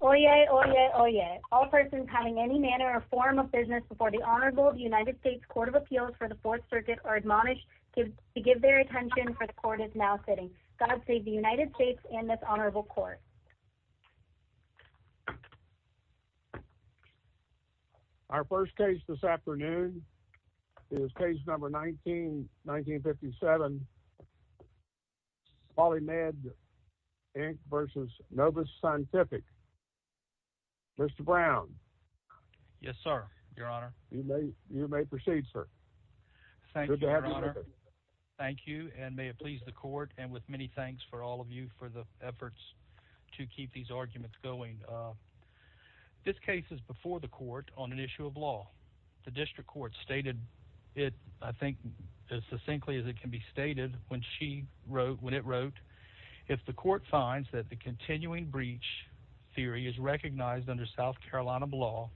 Oyez, oyez, oyez. All persons having any manner or form of business before the Honorable United States Court of Appeals for the Fourth Circuit are admonished to give their attention for the court is now sitting. God save the United States and this honorable court. Our first case this afternoon is case number 19-1957 Poly-Med, Inc. v. Novus Scientific. Mr. Brown. Yes, sir, your honor. You may proceed, sir. Thank you, your honor. Thank you and may it please the court and with many thanks for all of you for the efforts to keep these arguments going. This case is before the court on an issue of law. The district court stated it, I think, as succinctly as it can be stated when she wrote, when it wrote, if the court finds that the continuing breach theory is recognized under South Carolina law,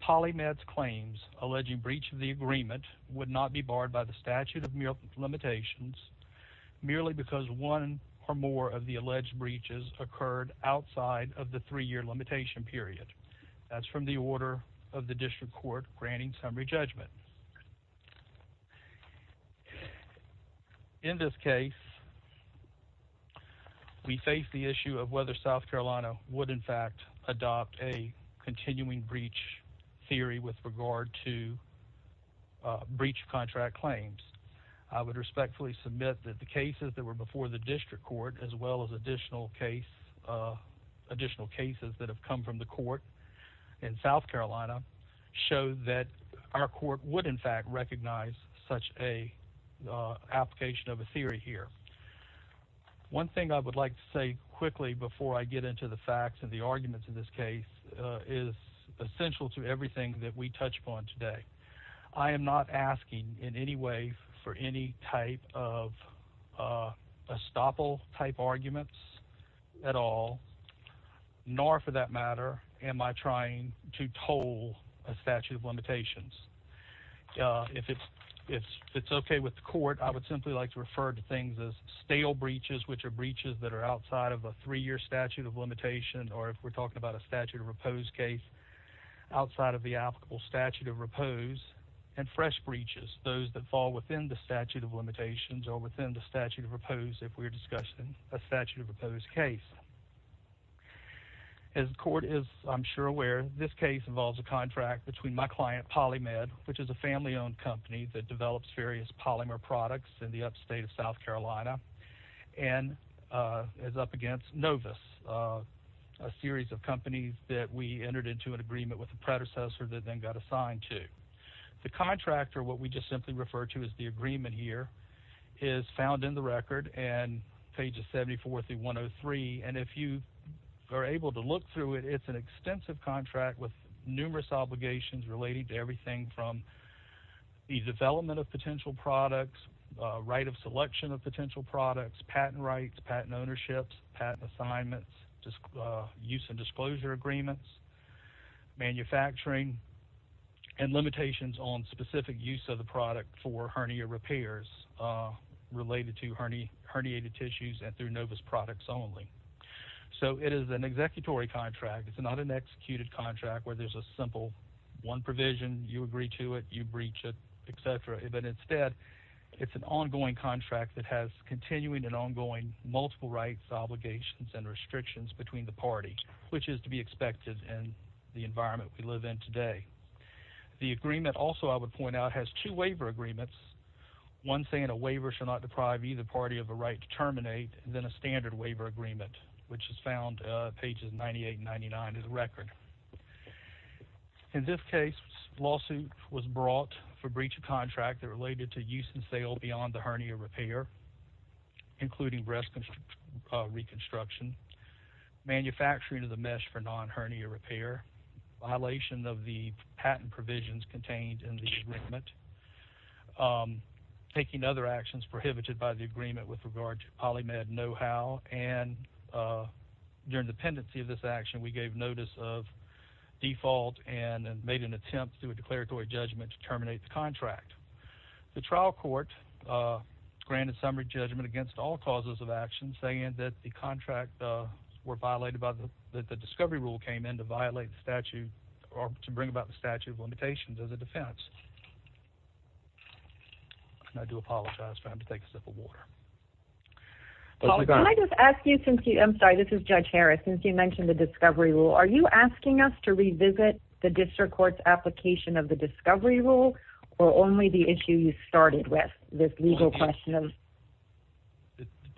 Poly-Med's claims alleging breach of the agreement would not be barred by the statute of limitations merely because one or more of the alleged breaches occurred outside of the three-year limitation period. That's from the order of the district court granting summary judgment. In this case, we face the issue of whether South Carolina would, in fact, adopt a continuing breach theory with regard to breach contract claims. I would respectfully submit that the cases that have come from the court in South Carolina show that our court would, in fact, recognize such an application of a theory here. One thing I would like to say quickly before I get into the facts and the arguments in this case is essential to everything that we touch upon nor for that matter am I trying to toll a statute of limitations. If it's okay with the court, I would simply like to refer to things as stale breaches which are breaches that are outside of a three-year statute of limitation or if we're talking about a statute of repose case outside of the applicable statute of repose and fresh breaches, those that fall within the statute of limitations or within the statute of repose if we're discussing a statute of repose case. As the court is, I'm sure, aware, this case involves a contract between my client, PolyMed, which is a family-owned company that develops various polymer products in the upstate of South Carolina and is up against Novus, a series of companies that we entered into an agreement with the predecessor that then got assigned to. The contractor, what we just simply refer to as the agreement here, is found in the record and pages 74 through 103 and if you are able to look through it, it's an extensive contract with numerous obligations relating to everything from the development of potential products, right of selection of potential products, patent rights, patent ownerships, patent assignments, use and disclosure agreements, manufacturing, and limitations on specific use of the product for hernia repairs related to herniated tissues and through Novus products only. So it is an executory contract. It's not an executed contract where there's a simple one provision, you agree to it, you breach it, etc. But instead, it's an ongoing contract that has continuing and ongoing multiple rights, obligations, and restrictions between the party, which is to be expected in the environment we live in today. The agreement also, I would point out, has two waiver agreements. One saying a waiver should not deprive either party of a right to terminate, then a standard waiver agreement, which is found pages 98 and 99 of the record. In this case, a lawsuit was brought for breach of contract that related to use and sale beyond the hernia repair, including breast reconstruction, manufacturing of the mesh for non-hernia repair, violation of the patent provisions contained in the agreement, taking other actions prohibited by the agreement with regard to polymed know-how, and during the pendency of this action, we gave notice of default and made an attempt through a declaratory judgment to terminate the contract. The trial court granted summary judgment against all causes of action saying that the contract were violated by the discovery rule came in to violate the statute or to bring about the statute of limitations as a defense. I do apologize for having to take a sip of water. Paul, can I just ask you since you, I'm sorry, this is Judge Harris, since you mentioned the discovery rule, are you asking us to revisit the district court's application of the discovery rule or only the issue you started with this legal question?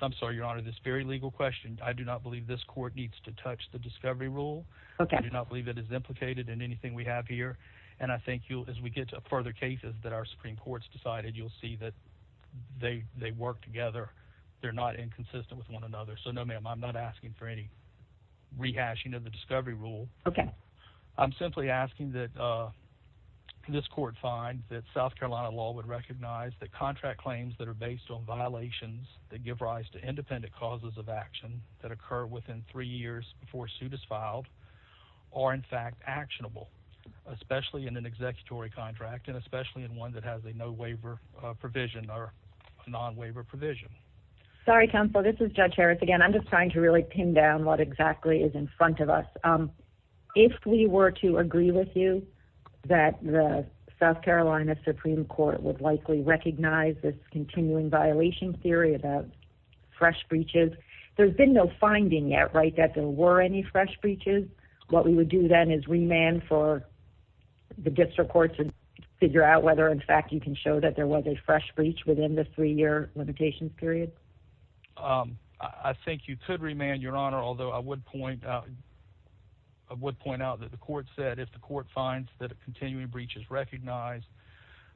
I'm sorry, your honor, this very legal question. I do not believe this court needs to touch the discovery rule. I do not believe it is implicated in anything we have here, and I think you'll, as we get to further cases that our Supreme Court's decided, you'll see that they work together. They're not inconsistent with one another, so no ma'am, I'm not asking for any rehashing of the discovery rule. Okay. I'm simply asking that this court find that South Carolina law would recognize that contract claims that are based on violations that give rise to independent causes of action that occur within three years before suit is filed are in fact actionable, especially in an executory contract and especially in one that has a no waiver provision or a non-waiver provision. Sorry, counsel, this is Judge Harris again. I'm just trying to really pin down what exactly is in front of us. If we were to agree with you that the South Carolina Supreme Court would likely recognize this continuing violation theory about fresh breaches, there's been no finding yet, right, that there were any fresh breaches. What we would do then is remand for the district court to figure out whether in fact you can show that there was a fresh breach within the three-year limitations period. I think you could remand, Your Honor, although I would point out that the court said if the court finds that a continuing breach is recognized,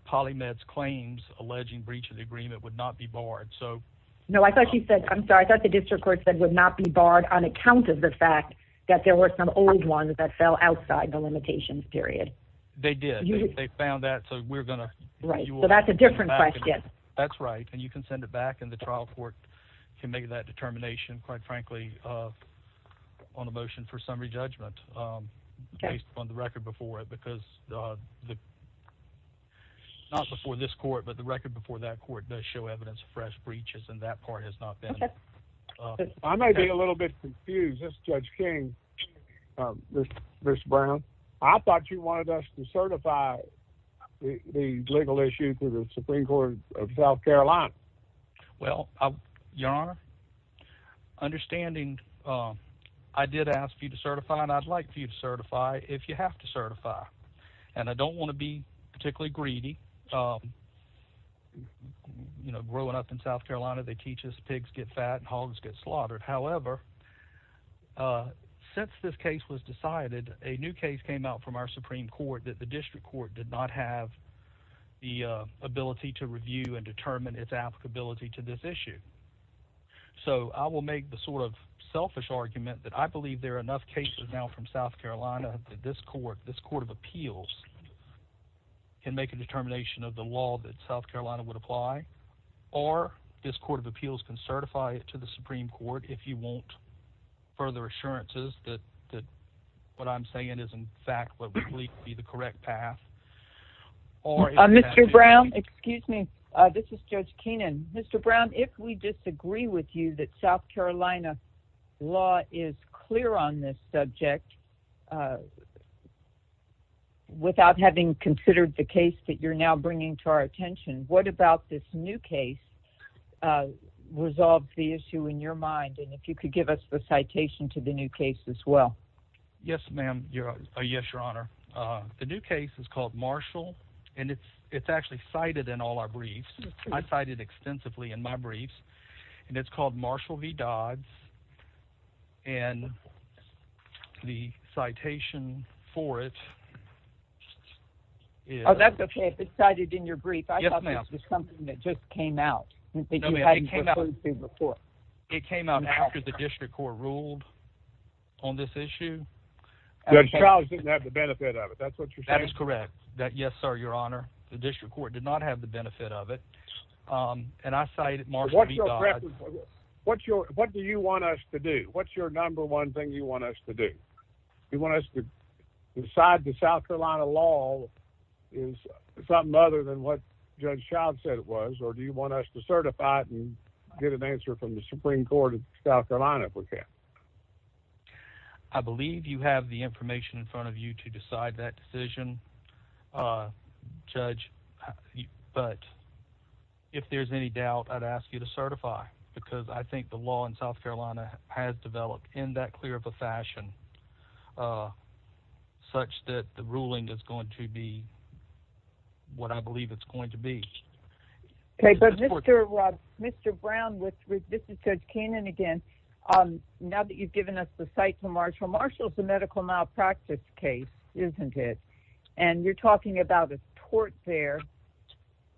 PolyMed's claims alleging breach of the agreement would not be barred, so. No, I thought you said, I'm sorry, I thought the district court said would not be barred on account of the fact that there were some old ones that fell outside the limitations period. They did. They found that, so we're going to. Right, that's a different question. That's right, and you can send it back, and the trial court can make that determination, quite frankly, on a motion for summary judgment based on the record before it, because not before this court, but the record before that court does show evidence of fresh breaches, and that part has not been. I may be a little bit confused. This is Judge King, Mr. Brown. I thought you wanted us to certify the legal issue to the Supreme Court of South Carolina. Well, Your Honor, understanding I did ask for you to certify, and I'd like for you to certify if you have to certify, and I don't want to be particularly greedy. You know, growing up in South Carolina, they teach us pigs get fat and hogs get slaughtered. However, since this case was decided, a new case came out from our Supreme Court that the District Court did not have the ability to review and determine its applicability to this issue, so I will make the sort of selfish argument that I believe there are enough cases now from South Carolina that this court, this Court of Appeals, can make a determination of the law that South Carolina would apply, or this Court of Appeals can certify it to the Supreme Court if you want further assurances that what I'm saying is, in fact, what we believe to be the correct path. Mr. Brown, excuse me. This is Judge Keenan. Mr. Brown, if we disagree with you that South Carolina law is clear on this subject without having considered the case that you're now bringing to our attention, what about this new case resolved the issue in your mind, and if you could give us the citation to the new case as well? Yes, ma'am. Yes, Your Honor. The new case is called Marshall, and it's actually cited in all our briefs. I cite it extensively in my briefs, and it's called Marshall v. Dodds, and the citation for it is... Oh, that's okay. If it's cited in your brief, I thought that was just something that just came out that you hadn't proposed to before. It came out after the district court ruled on this issue. Judge Charles didn't have the benefit of it. That's what you're saying? That is correct. Yes, sir, Your Honor. The district court did not have the benefit of it, and I cited Marshall v. Dodds. What do you want us to do? What's your number one thing you want us to do? You want us to decide that South Carolina law is something other than what Judge Charles said it was, or do you want us to certify it and get an answer from the Supreme Court of South Carolina if we can? I believe you have the information in front of you to decide that decision, Judge, but if there's any doubt, I'd ask you to certify because I think the law in South Carolina has developed in that clear of a fashion such that the ruling is going to be what I believe it's going to be. Okay, but Mr. Brown, this is Judge Kannon again. Now that you've given us the cite for Marshall, Marshall's a medical malpractice case, isn't it? And you're talking about a tort there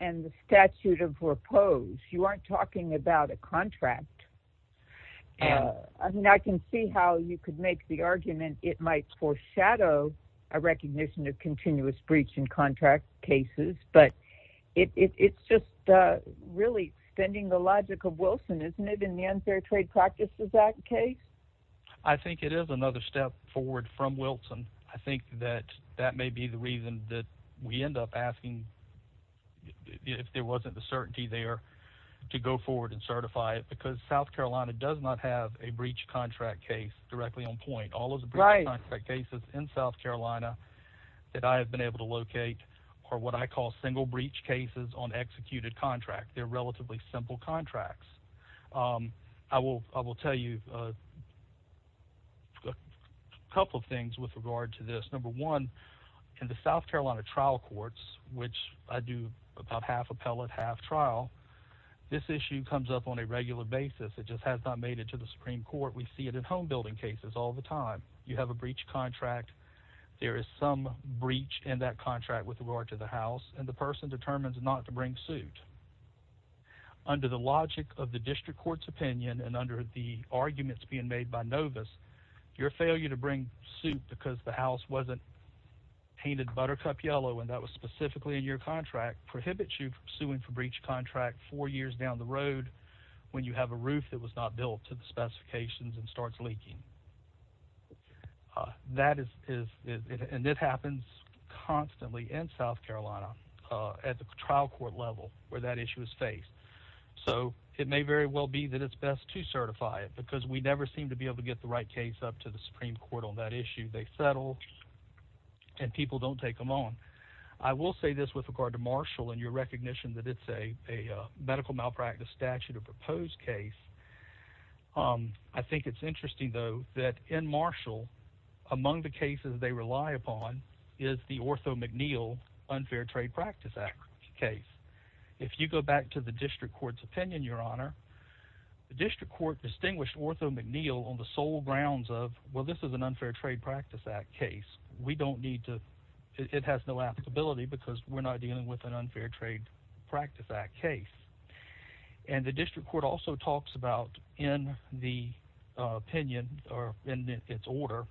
and the statute of repose. You aren't talking about a contract. I mean, I can see how you could make the argument it might foreshadow a recognition of continuous breach in contract cases, but it's just really extending the logic of Wilson, isn't it, in the Unfair Trade Practices Act case? I think it is another step forward from Wilson. I think that that may be the reason that we end up asking, if there wasn't the certainty there, to go forward and certify it because South Carolina does not have a breach contract case directly on point. All of the breach contract cases in South Carolina that I have been able to locate are what I call single breach cases on executed contract. They're relatively simple contracts. I will tell you a couple of things with regard to this. Number one, in the South Carolina trial courts, which I do about half appellate, half trial, this issue comes up on a regular basis. It just has not made it to the Supreme Court. We see it in home building cases all the time. You have a breach contract. There is some breach in that under the logic of the district court's opinion and under the arguments being made by Novus, your failure to bring suit because the house wasn't painted buttercup yellow and that was specifically in your contract prohibits you from suing for breach contract four years down the road when you have a roof that was not built to the specifications and starts leaking. That is, and it happens constantly in South Carolina at the trial court level where that issue is faced. It may very well be that it's best to certify it because we never seem to be able to get the right case up to the Supreme Court on that issue. They settle and people don't take them on. I will say this with regard to Marshall and your recognition that it's a medical malpractice statute or proposed case. I think it's interesting though that in Marshall, among the cases they rely upon is the ortho McNeill unfair trade practice act case. If you go back to the district court's opinion, your honor, the district court distinguished ortho McNeill on the sole grounds of, well, this is an unfair trade practice act case. We don't need to, it has no applicability because we're not dealing with an unfair trade practice act case. And the district court also talks about in the opinion or in its order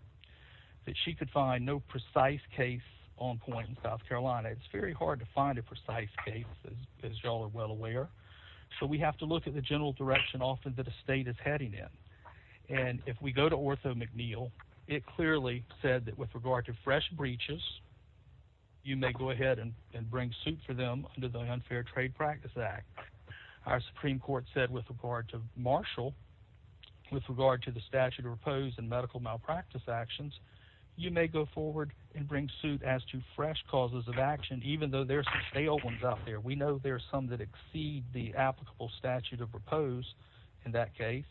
that she could find no precise case on point in South Carolina. It's very hard to find a precise case as y'all are well aware. So we have to look at the general direction often that a state is heading in. And if we go to ortho McNeill, it clearly said that with regard to fresh breaches, you may go ahead and bring suit for them under the unfair trade practice act. Our Supreme court said with regard to Marshall, with regard to the statute of repose and medical malpractice actions, you may go forward and bring suit as to fresh causes of action, even though there's some stale ones out there. We know there are some that exceed the applicable statute of repose in that case,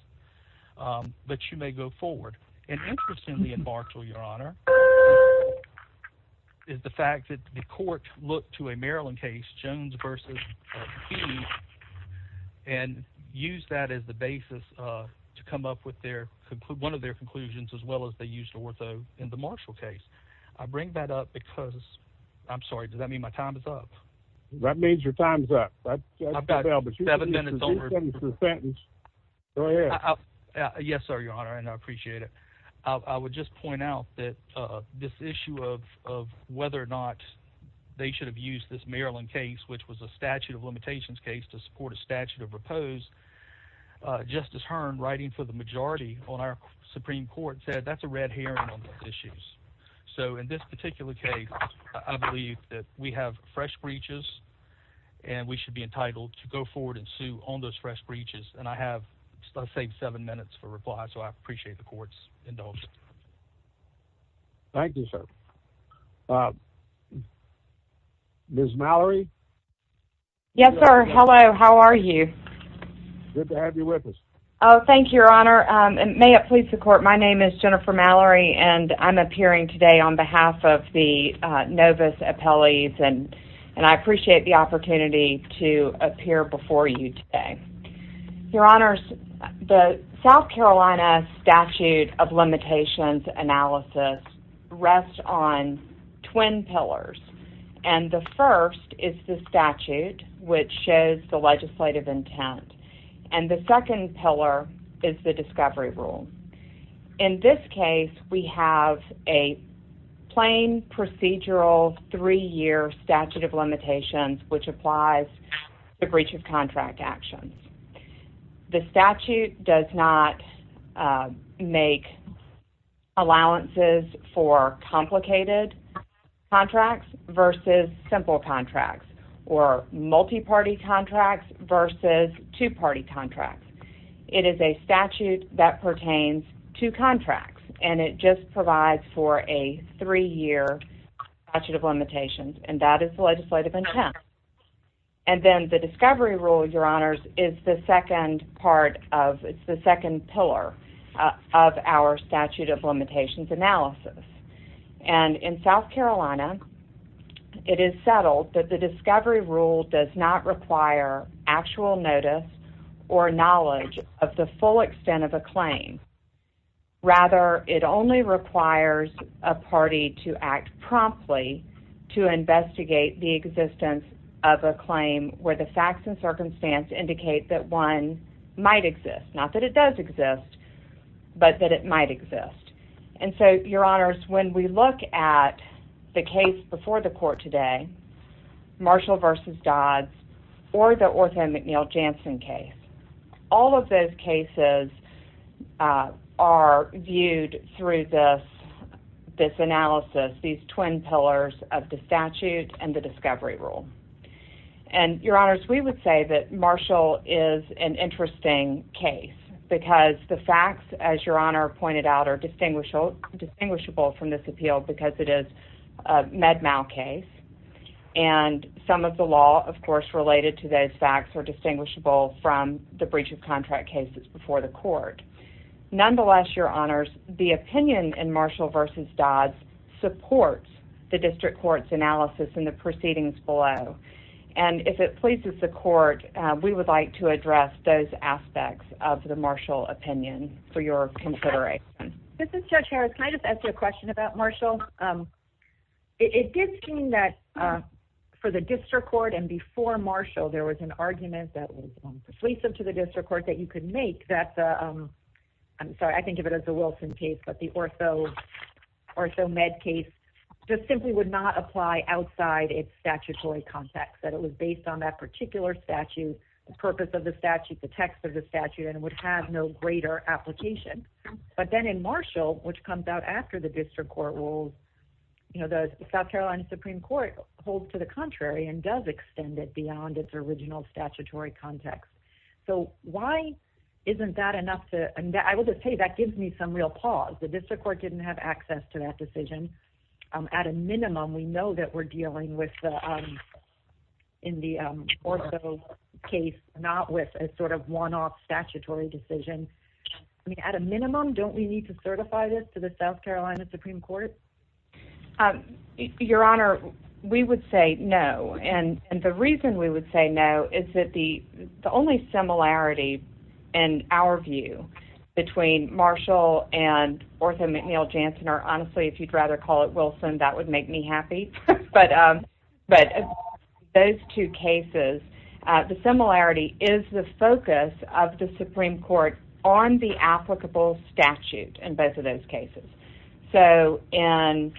but you may go forward. And interestingly in Marshall, your honor is the fact that the court looked to a Maryland case Jones versus and use that as the basis to come up with their one of their conclusions, as well as they used ortho in the Marshall case. I bring that up because I'm sorry. Does that mean my time is up? That means your time's up. I've got seven minutes. Yes, sir. Your honor. And I appreciate it. I would just point out that, uh, this issue of, of whether or not they should have used this Maryland case, which was a statute of limitations case to support a statute of repose, uh, justice Hearn writing for the majority on our Supreme court said that's a red herring on those issues. So in this particular case, I believe that we and I have saved seven minutes for reply. So I appreciate the court's indulgence. Thank you, sir. Uh, Ms. Mallory. Yes, sir. Hello. How are you? Good to have you with us. Oh, thank you, your honor. Um, and may it please the court. My name is Jennifer Mallory and I'm appearing today on behalf of the, uh, novice appellees and, and I appreciate the opportunity to appear before you today, your honors, the South Carolina statute of limitations analysis rests on twin pillars. And the first is the statute, which shows the legislative intent. And the second pillar is the discovery rule. In this case, we have a plain procedural three year statute of limitations, which applies the breach of contract actions. The statute does not, uh, make allowances for complicated contracts versus simple contracts or multi-party contracts versus two party contracts. It is a just provides for a three year statute of limitations and that is the legislative intent. And then the discovery rule, your honors is the second part of it's the second pillar of our statute of limitations analysis. And in South Carolina, it is settled that the discovery rule does not require actual notice or knowledge of the full extent of a claim. Rather, it only requires a party to act promptly to investigate the existence of a claim where the facts and circumstance indicate that one might exist, not that it does exist, but that it might exist. And so your honors, when we look at the case before the court today, Marshall versus Dodds or the Ortho McNeil Janssen case, all of those cases, uh, are viewed through this, this analysis, these twin pillars of the statute and the discovery rule. And your honors, we would say that Marshall is an interesting case because the facts, as your honor pointed out, are distinguishable, distinguishable from this appeal because it is a med mal case. And some of the law, of course, related to those facts are distinguishable from the breach of contract cases before the court. Nonetheless, your honors, the opinion in Marshall versus Dodds supports the district court's analysis and the proceedings below. And if it pleases the court, we would like to address those aspects of the Marshall opinion for your consideration. This is judge Harris. Can I just ask you a question about Marshall? Um, it did seem that, uh, for the district court and before Marshall, there was an argument that was persuasive to the district court that you could make that, um, I'm sorry. I think of it as the Wilson case, but the ortho ortho med case just simply would not apply outside its statutory context that it was based on that particular statute, the purpose of the statute, the text of the statute, and it would have no greater application. But then in Marshall, which comes out after the district court rules, you know, the South Carolina Supreme Court holds to the contrary and does extend it beyond its original statutory context. So why isn't that enough to, and I will just tell you, that gives me some real pause. The district court didn't have access to that decision. Um, at a minimum, we know that we're dealing with, um, in the, um, ortho case, not with a sort of one-off statutory decision. I mean, at a minimum, don't we need to certify this to the South Carolina Supreme Court? Um, your honor, we would say no. And the reason we would say no is that the, the only similarity and our view between Marshall and ortho McNeil-Janssen, or honestly, if you'd rather call it Wilson, that would make me happy. But, um, but those two cases, uh, the similarity is the focus of the Supreme Court on the applicable statute in both of those cases. So in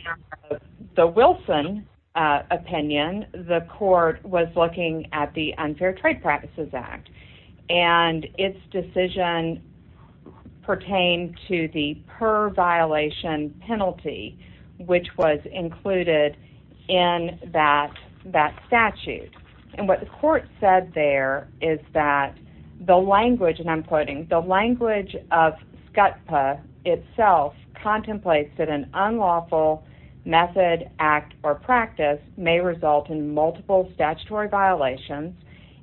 the Wilson, uh, opinion, the court was looking at the Unfair Trade Practices Act and its decision pertained to the per-violation penalty, which was included in that, that statute. And what the court said there is that the language, and I'm quoting, the language of SCUTPA itself contemplates that an unlawful method, act, or practice may result in multiple statutory violations.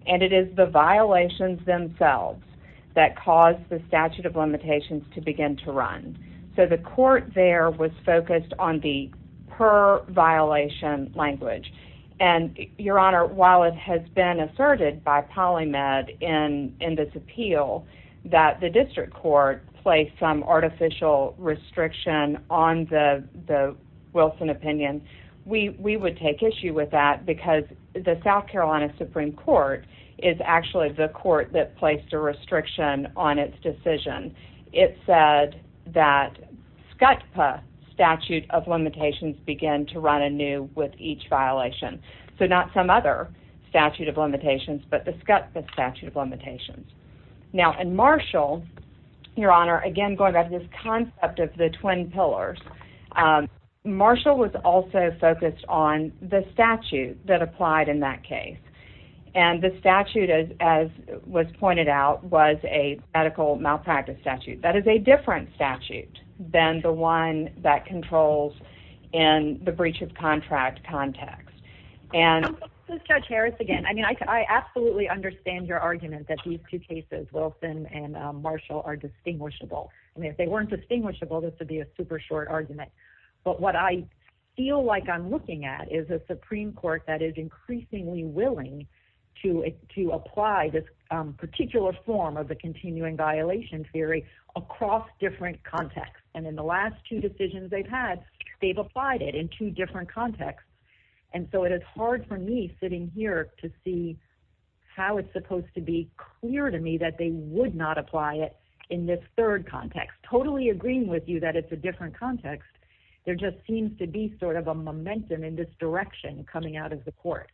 And it is the violations themselves that caused the statute of limitations to begin to run. So the court there was focused on the per-violation language. And your honor, while it has been asserted by PolyMed in, in this appeal that the district court placed some artificial restriction on the, the Wilson opinion, we, we would take issue with that because the South Carolina Supreme Court is actually the court that placed a restriction on its decision. It said that SCUTPA statute of limitations began to run anew with each violation. So not some statute of limitations, but the SCUTPA statute of limitations. Now in Marshall, your honor, again, going back to this concept of the twin pillars, um, Marshall was also focused on the statute that applied in that case. And the statute as, as was pointed out was a medical malpractice statute. That is a different statute than the one that controls in the breach of contract context. And judge Harris, again, I mean, I, I absolutely understand your argument that these two cases, Wilson and Marshall are distinguishable. I mean, if they weren't distinguishable, this would be a super short argument, but what I feel like I'm looking at is a Supreme Court that is increasingly willing to, to apply this particular form of the continuing violation theory across different contexts. And in the last two decisions they've had, they've applied it in two different contexts. And so it is hard for me sitting here to see how it's supposed to be clear to me that they would not apply it in this third context, totally agreeing with you that it's a different context. There just seems to be sort of a momentum in this direction coming out of the court.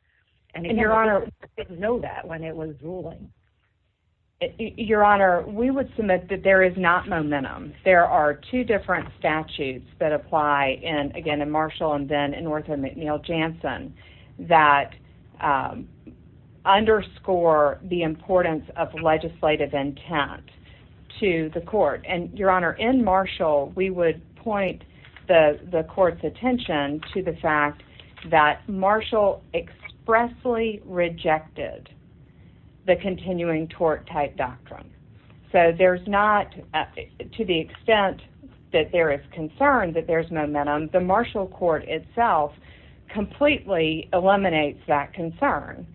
And if your honor didn't know that when it was ruling. Your honor, we would submit that there is not momentum. There are two different statutes that apply in, again, in Marshall and then in Northwood McNeil Jansen that underscore the importance of legislative intent to the court. And your honor in Marshall, we would point the court's attention to the fact that Marshall expressly rejected the continuing tort type doctrine. So there's not, to the extent that there is concern that there's momentum, the Marshall court itself completely eliminates that concern.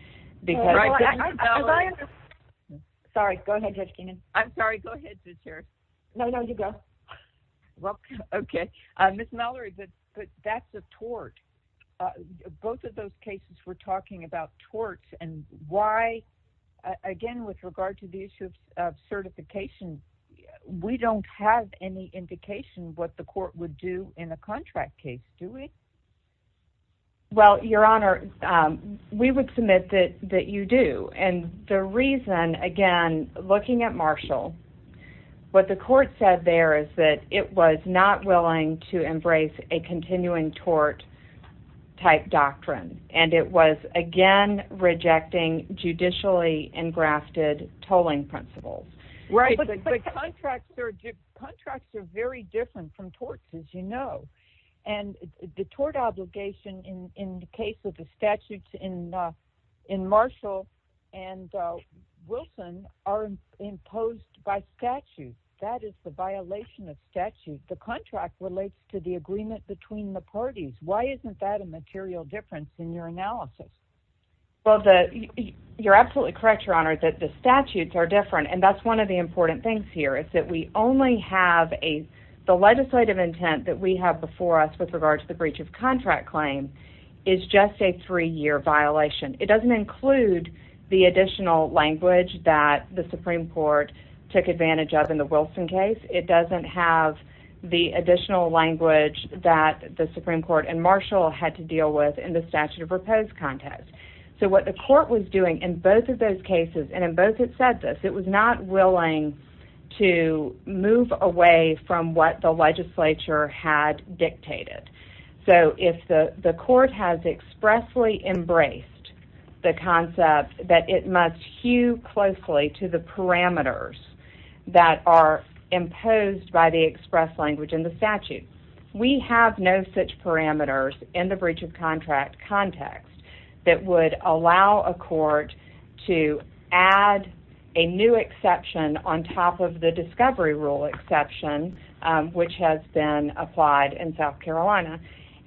Sorry, go ahead Judge Keenan. I'm sorry, go ahead Ms. Harris. No, no, you go. Well, okay. Ms. Mallory, but that's a tort. Both of those cases were talking about torts and why, again, with regard to the issue of certification, we don't have any indication what the court would do in a contract case, do we? Well, your honor, we would submit that you do. And the reason, again, looking at Marshall, what the court said there is that it was not willing to embrace a continuing tort type doctrine. And it was, again, rejecting judicially engrafted tolling principles. Right, but the contracts are very different from torts, as you know. And the tort obligation in the case of the statutes in Marshall and Wilson are imposed by statute. That is the violation of statute. The contract relates to the agreement between the parties. Why isn't that a material difference in your analysis? Well, you're absolutely correct, your honor, that the statutes are different. And that's one of the important things here, is that we only have a, the legislative intent that we have before us with regard to the breach of contract claim is just a three-year violation. It doesn't include the additional language that the Supreme Court took advantage of in the Wilson case. It doesn't have the additional language that the Supreme Court and Marshall had to deal with in the statute of repose context. So what the court was doing in both of those cases, and in both it said this, it was not willing to move away from what the legislature had dictated. So if the court has expressly embraced the concept that it must hew closely to the parameters that are imposed by the express language in the statute. We have no such parameters in the breach of contract context that would allow a court to add a new exception on top of the discovery rule exception, which has been applied in South Carolina.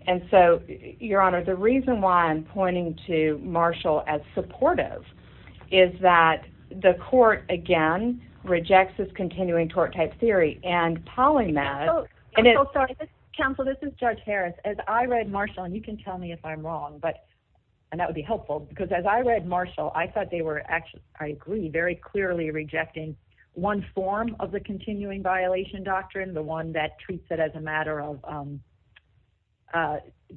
And so your honor, the reason why I'm pointing to Marshall as supportive is that the court, again, rejects this continuing tort type theory and polymath. Counsel, this is Judge Harris. As I read Marshall, and you can tell me if I'm wrong, but and that would be helpful because as I read Marshall, I thought they were actually, I agree very clearly rejecting one form of the continuing violation doctrine, the one that treats it as a matter of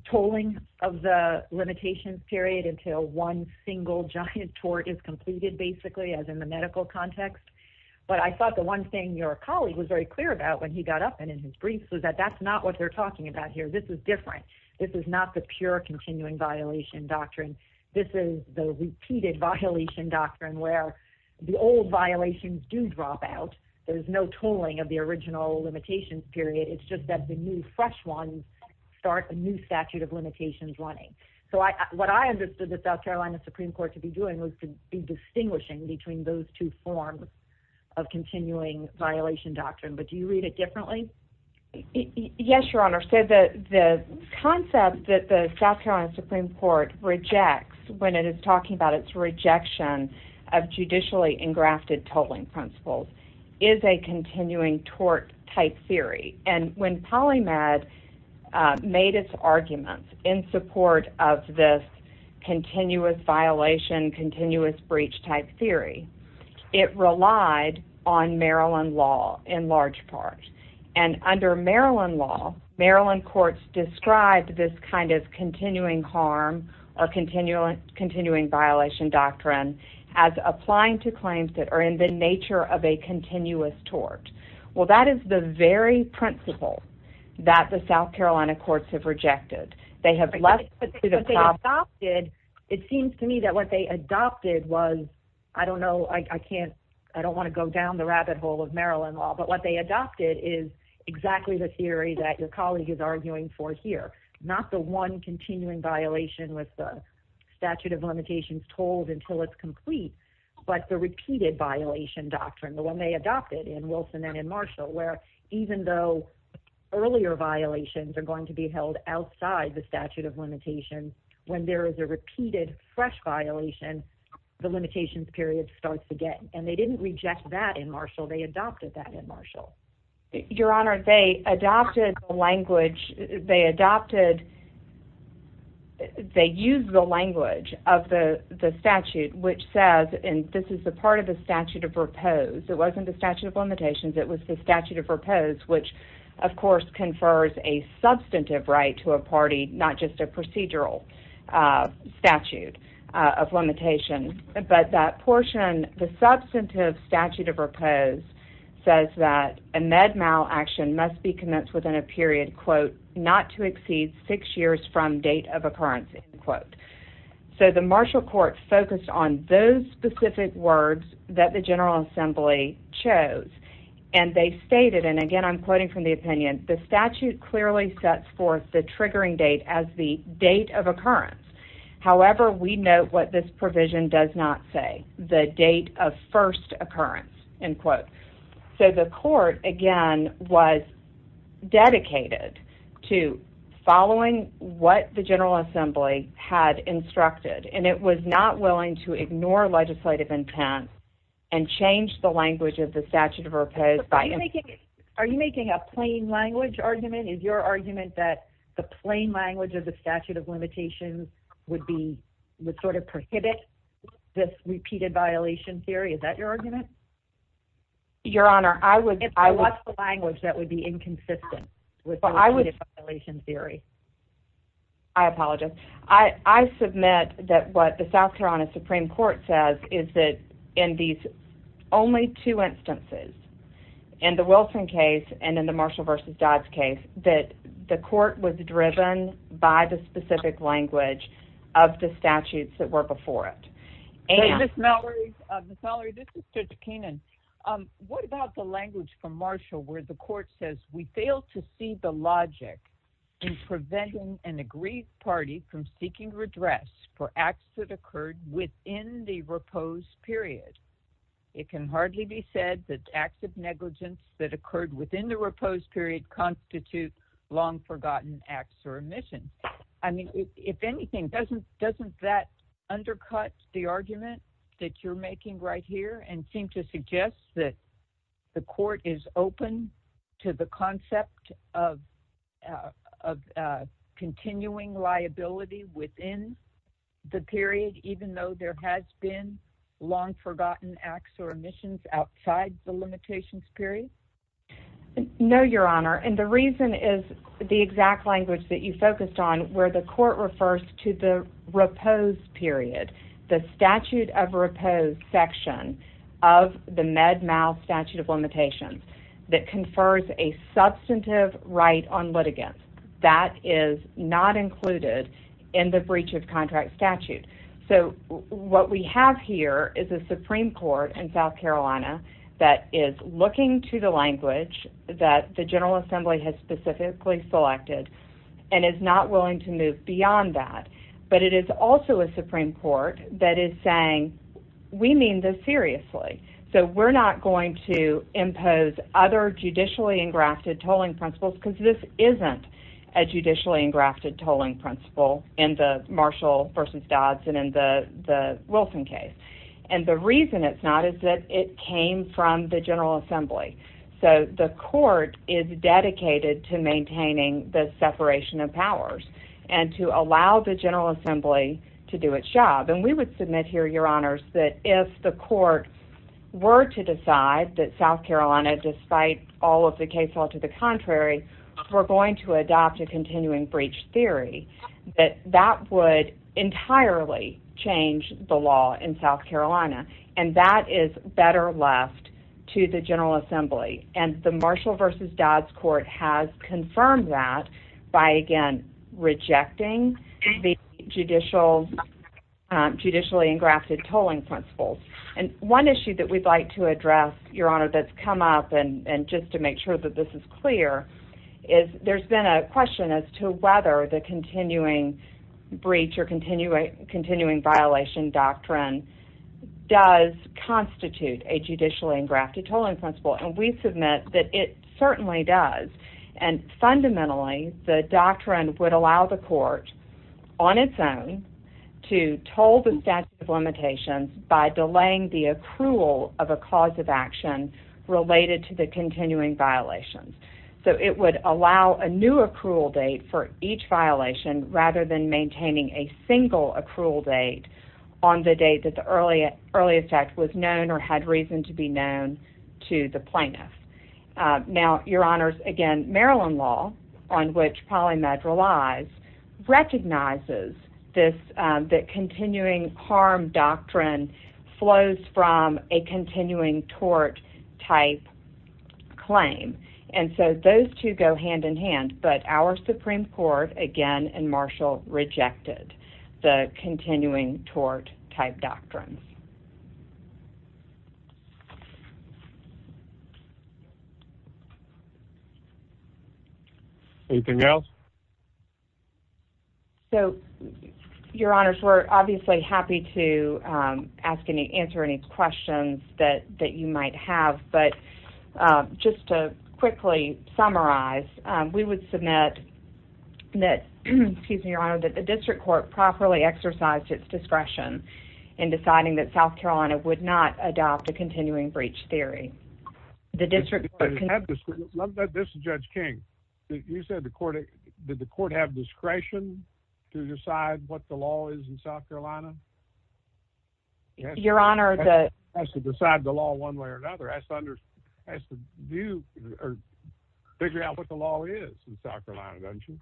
tolling of the limitations period until one single giant tort is completed basically as in the medical context. But I thought the one thing your colleague was very clear about when he got up and in his briefs was that that's not what they're This is the repeated violation doctrine where the old violations do drop out. There's no tolling of the original limitations period. It's just that the new fresh ones start a new statute of limitations running. So what I understood the South Carolina Supreme Court to be doing was to be distinguishing between those two forms of continuing violation doctrine. But do you read it differently? Yes, Your Honor. So the concept that the South Carolina Supreme Court rejects when it is talking about its rejection of judicially engrafted tolling principles is a continuing tort type theory. And when polymath made its arguments in support of this continuous violation, continuous breach type theory, it relied on Maryland law in large part. And under Maryland law, Maryland courts described this kind of continuing harm or continuing violation doctrine as applying to claims that are in the nature of a continuous tort. Well, that is the very principle that the South Carolina courts have rejected. They have left, but they adopted. It seems to me that what they adopted was, I don't know, I can't, I don't want to go down the rabbit hole of Maryland law, but what they adopted is exactly the theory that your colleague is arguing for here. Not the one continuing violation with the statute of limitations told until it's complete, but the repeated violation doctrine, the one they adopted in Wilson and in Marshall, where even though earlier violations are going to be held outside the statute of limitations, when there is a repeated fresh violation, the limitations period starts to get, and they didn't reject that in Marshall. They adopted that in Marshall. Your honor, they adopted the language they adopted. They use the language of the statute, which says, and this is the part of the statute of repose. It wasn't the statute of limitations. It was the statute of repose, which of course confers a substantive right to a party, not just a procedural statute of limitation, but that portion, the substantive statute of repose says that a med mal action must be commenced within a period, quote, not to exceed six years from date of occurrence, end quote. So the Marshall court focused on those specific words that the general assembly chose, and they stated, and again, I'm quoting from the opinion, the statute clearly sets forth the triggering date as the date of occurrence. However, we note what this provision does not say, the date of first occurrence, end quote. So the court, again, was dedicated to following what the general assembly had instructed, and it was not willing to ignore legislative intent and change the language of the statute of repose. Are you making a plain language argument? Is your argument that the plain language of the statute of limitations would be, would sort of prohibit this repeated violation theory? Is that your argument? Your honor, I would, I watch the language that would be inconsistent with the violation theory. I apologize. I, I submit that what the South Carolina Supreme court says is that in these only two instances and the Wilson case, and in the Marshall versus Dodd's case, that the court was driven by the specific language of the statutes that were before it. And this Mallory of the salary, this is such a Keenan. Um, what about the language from Marshall where the court says we fail to see the logic in preventing an agreed party from seeking redress for acts that occurred within the repose period. It can hardly be said that active negligence that occurred within the repose period constitute long forgotten acts or omission. I mean, if anything, doesn't, doesn't that undercut the argument that you're making right here and seem to suggest that the court is open to the within the period, even though there has been long forgotten acts or omissions outside the limitations period. No, your honor. And the reason is the exact language that you focused on where the court refers to the repose period, the statute of repose section of the med mouth statute of in the breach of contract statute. So what we have here is a Supreme court in South Carolina that is looking to the language that the general assembly has specifically selected and is not willing to move beyond that. But it is also a Supreme court that is saying, we mean this seriously. So we're not going to impose other judicially engrafted tolling principles because this isn't a judicially engrafted tolling principle in the Marshall versus Dodds and in the Wilson case. And the reason it's not, is that it came from the general assembly. So the court is dedicated to maintaining the separation of powers and to allow the general assembly to do its job. And we would submit here, your honors, that if the court were to decide that South Carolina, despite all of the case, all to the contrary, we're going to adopt a continuing breach theory that that would entirely change the law in South Carolina. And that is better left to the general assembly. And the Marshall versus Dodds court has confirmed that by again, rejecting the judicial, um, judicially engrafted tolling principles. And one issue that we'd like to address, your honor, that's come up and just to make sure that this is clear is there's been a question as to whether the continuing breach or continuing continuing violation doctrine does constitute a judicially engrafted tolling principle. And we submit that it certainly does. And fundamentally the doctrine would allow the court on its own to toll the statute of limitations by delaying the accrual of a cause of action related to the continuing violations. So it would allow a new accrual date for each violation rather than maintaining a single accrual date on the date that the early, early effect was known or had reason to be known to the plaintiff. Uh, now your honors again, Maryland law on which polymed relies recognizes this, um, that continuing harm doctrine flows from a continuing tort type claim. And so those two go hand in hand, but our Supreme court again, and Marshall rejected the continuing tort type doctrines. Anything else? So your honors, we're obviously happy to, um, ask any, answer any questions that, that you might have, but, um, just to quickly summarize, um, we would submit that, excuse me, in deciding that South Carolina would not adopt a continuing breach theory, the district. This is judge King. You said the court, did the court have discretion to decide what the law is in South Carolina? Your honor has to decide the law one way or another, has to, has to do or figure out what the law is in South Carolina. Don't you?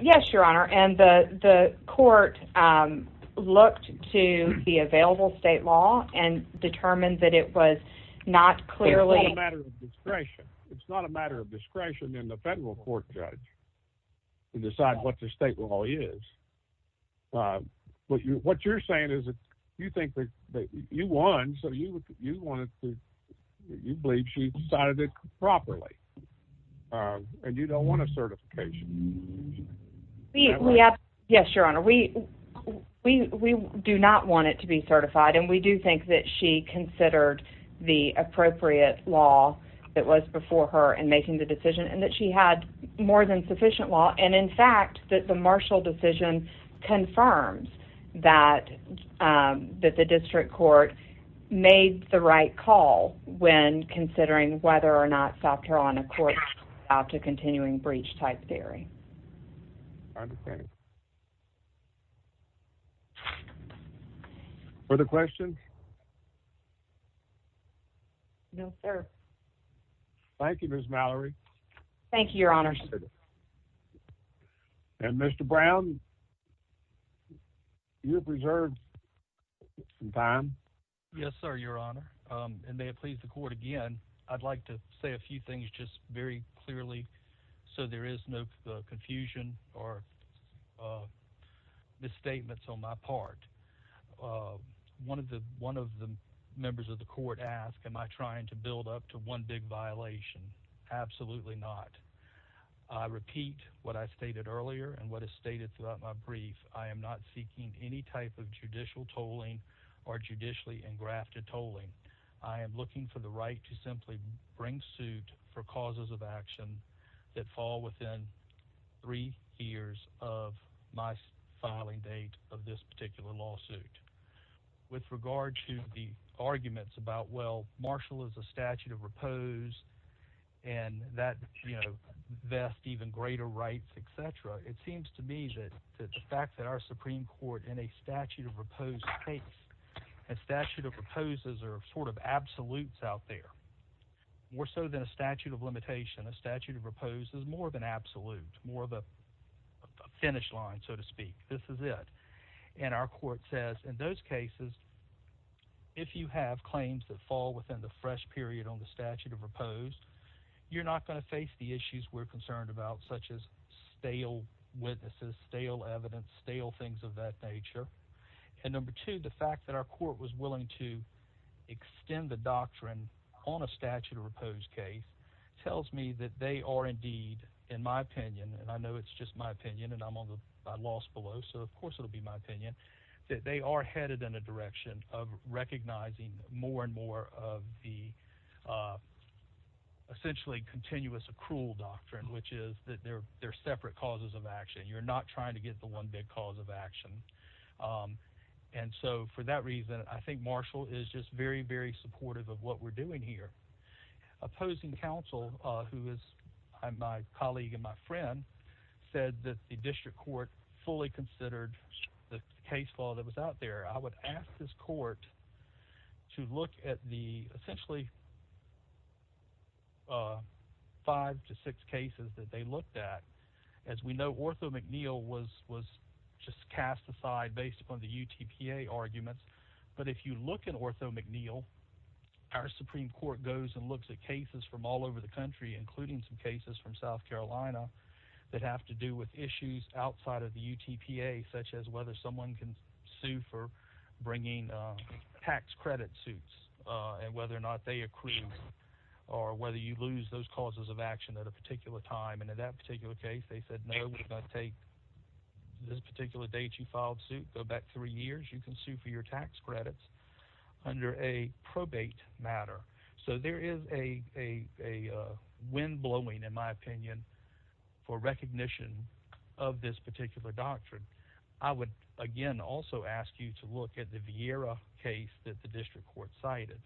Yes, your honor. And the, the court, um, looked to the available state law and determined that it was not clearly a matter of discretion. It's not a matter of discretion in the federal court judge to decide what the state law is. Uh, what you, what you're saying is that you think that you won. So you, you wanted to, you believe she decided it properly. Um, and you don't want a certification. Yes, your honor. We, we, we do not want it to be certified. And we do think that she considered the appropriate law that was before her and making the decision and that she had more than sufficient law. And in fact, that the Marshall decision confirms that, um, that the district court made the right call when considering whether or not South Carolina court out to continuing breach type dairy. I understand. For the question. No, sir. Thank you, Ms. Mallory. Thank you, your honor. And Mr. Brown, you preserved time. Yes, sir. Your honor. Um, and may it please the court again, I'd like to say a few things just very clearly. So there is no confusion or, uh, misstatements on my part. Uh, one of the, one of the members of the court asked, am I trying to build up to one big violation? Absolutely not. I repeat what I stated earlier and what is stated throughout my brief. I am not seeking any type of judicial tolling or judicially and grafted tolling. I am looking for the right to simply bring suit for causes of action that fall within three years of my filing date of this particular lawsuit with regard to the arguments about, well, Marshall is a statute of repose and that, you know, best, even greater rights, et cetera. It seems to me that the fact that our Supreme Court in a statute of repose case, a statute of reposes are sort of absolutes out there more so than a statute of limitation. A statute of repose is more of an absolute, more of a finish line, so to speak. This is it. And our court says in those cases, if you have claims that fall within the fresh period on the statute of repose, you're not going to face the issues we're concerned about, such as death nature. And number two, the fact that our court was willing to extend the doctrine on a statute of repose case tells me that they are indeed, in my opinion, and I know it's just my opinion and I'm on the, I lost below, so of course it'll be my opinion, that they are headed in a direction of recognizing more and more of the essentially continuous accrual doctrine, which is that there are separate causes of action. You're not trying to get the one big cause of action. And so for that reason, I think Marshall is just very, very supportive of what we're doing here. Opposing counsel, who is my colleague and my friend, said that the district court fully considered the case law that was out there. I would ask this court to look at the essentially five to six cases that they looked at. As we know, Ortho McNeil was just cast aside based upon the UTPA arguments. But if you look at Ortho McNeil, our Supreme Court goes and looks at cases from all over the country, including some cases from South Carolina that have to do with issues outside of the UTPA, such as whether someone can for bringing tax credit suits and whether or not they accrue or whether you lose those causes of action at a particular time. And in that particular case, they said, no, we're going to take this particular date you filed suit, go back three years, you can sue for your tax credits under a probate matter. So there is a wind blowing, in my opinion, for recognition of this particular doctrine. I would, again, also ask you to look at the Viera case that the district court cited.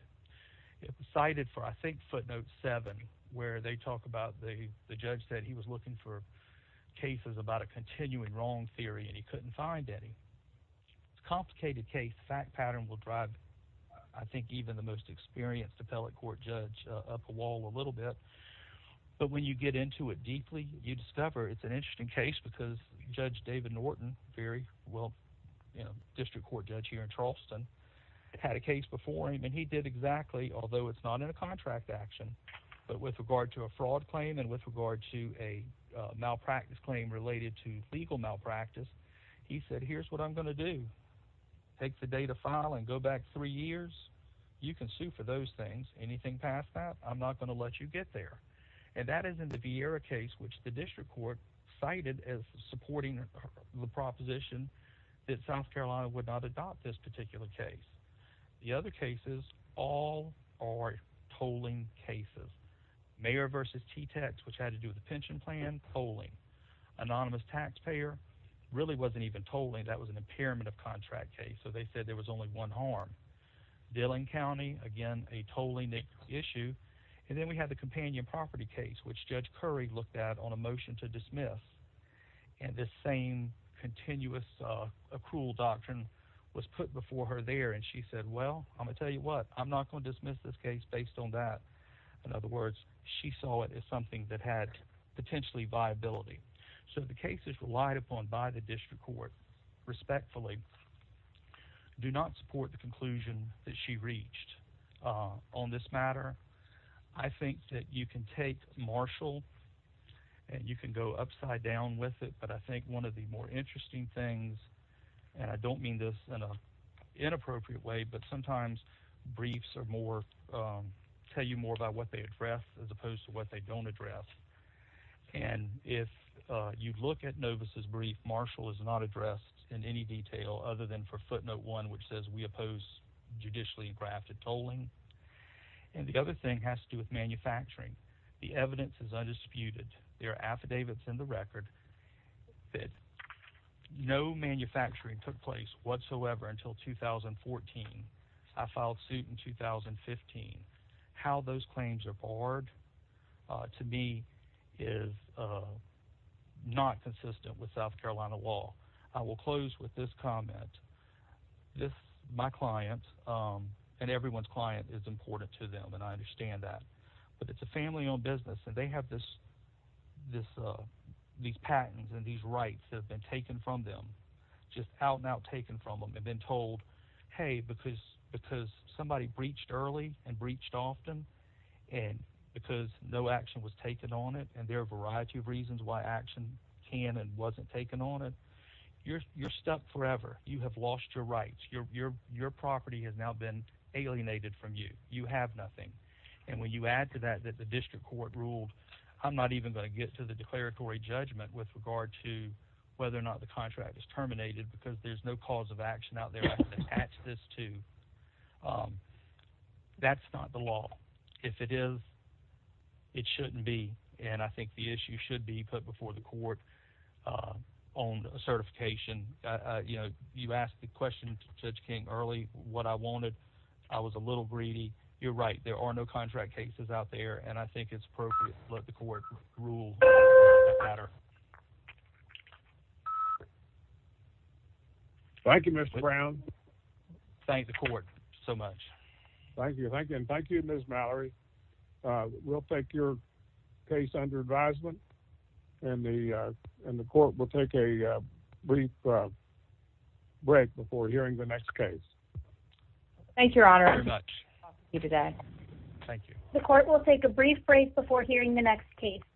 It was cited for, I think, footnote seven, where they talk about the judge said he was looking for cases about a continuing wrong theory and he couldn't find any. It's a complicated case. The fact pattern will drive, I think, even the most experienced appellate court judge up the wall a little bit. But when you get into it deeply, you discover it's an interesting case because Judge David Norton, very well district court judge here in Charleston, had a case before him and he did exactly, although it's not in a contract action, but with regard to a fraud claim and with regard to a malpractice claim related to legal malpractice, he said, here's what I'm going to do. Take the date of file and go back three years. You can sue for those things. Anything past that, I'm not going to let you get there. And that is in the Viera case, which the district court cited as supporting the proposition that South Carolina would not adopt this particular case. The other cases, all are tolling cases. Mayor versus T-Tex, which had to do with the pension plan, tolling. Anonymous taxpayer really wasn't even tolling. That was an impairment of contract case. So they said there was only one harm. Dillon County, again, a tolling issue. And then we had the companion property case, which Judge Curry looked at on a motion to dismiss. And this same continuous accrual doctrine was put before her there. And she said, well, I'm going to tell you what, I'm not going to dismiss this case based on that. In other words, she saw it as something that had potentially viability. So the cases relied upon by the district court, respectfully, do not support the conclusion that she reached on this matter. I think that you can take Marshall and you can go upside down with it. But I think one of the more interesting things, and I don't mean this in an inappropriate way, but sometimes briefs tell you more about what they address as opposed to what they don't address. And if you look at Novus's brief, Marshall is not addressed in any detail other than for footnote one, which says we oppose judicially grafted tolling. And the other thing has to do with manufacturing. The evidence is undisputed. There are affidavits in the record that no manufacturing took place whatsoever until 2014. I filed suit in 2015. How those claims are barred, to me, is not consistent with South Carolina law. I will close with this comment. My client, and everyone's client, is important to them, and I understand that. But it's a family owned business, and they have these patents and these rights that have been taken from them, just out and out taken from them, and then told, hey, because somebody breached early and breached often, and because no action was taken on it, and there are a variety of reasons why action can and wasn't taken on it, you're stuck forever. You have lost your rights. Your property has now been alienated from you. You have nothing. And when you add to that, that the district court ruled, I'm not even going to get to the declaratory judgment with regard to whether or not the contract is terminated, because there's no cause of action out there to attach this to. That's not the law. If it is, it shouldn't be. And I think the issue should be put before the court on certification. You know, you asked the question to Judge King early, what I wanted. I was a little greedy. You're right. There are no contract cases out there, and I think it's appropriate to let the court rule on that matter. Thank you, Mr. Brown. Thank the court so much. Thank you. Thank you. And thank you, Ms. Mallory. We'll take your case under advisement, and the court will take a brief break before hearing the next case. Thank you, Your Honor. Thank you. The court will take a brief break before hearing the next case.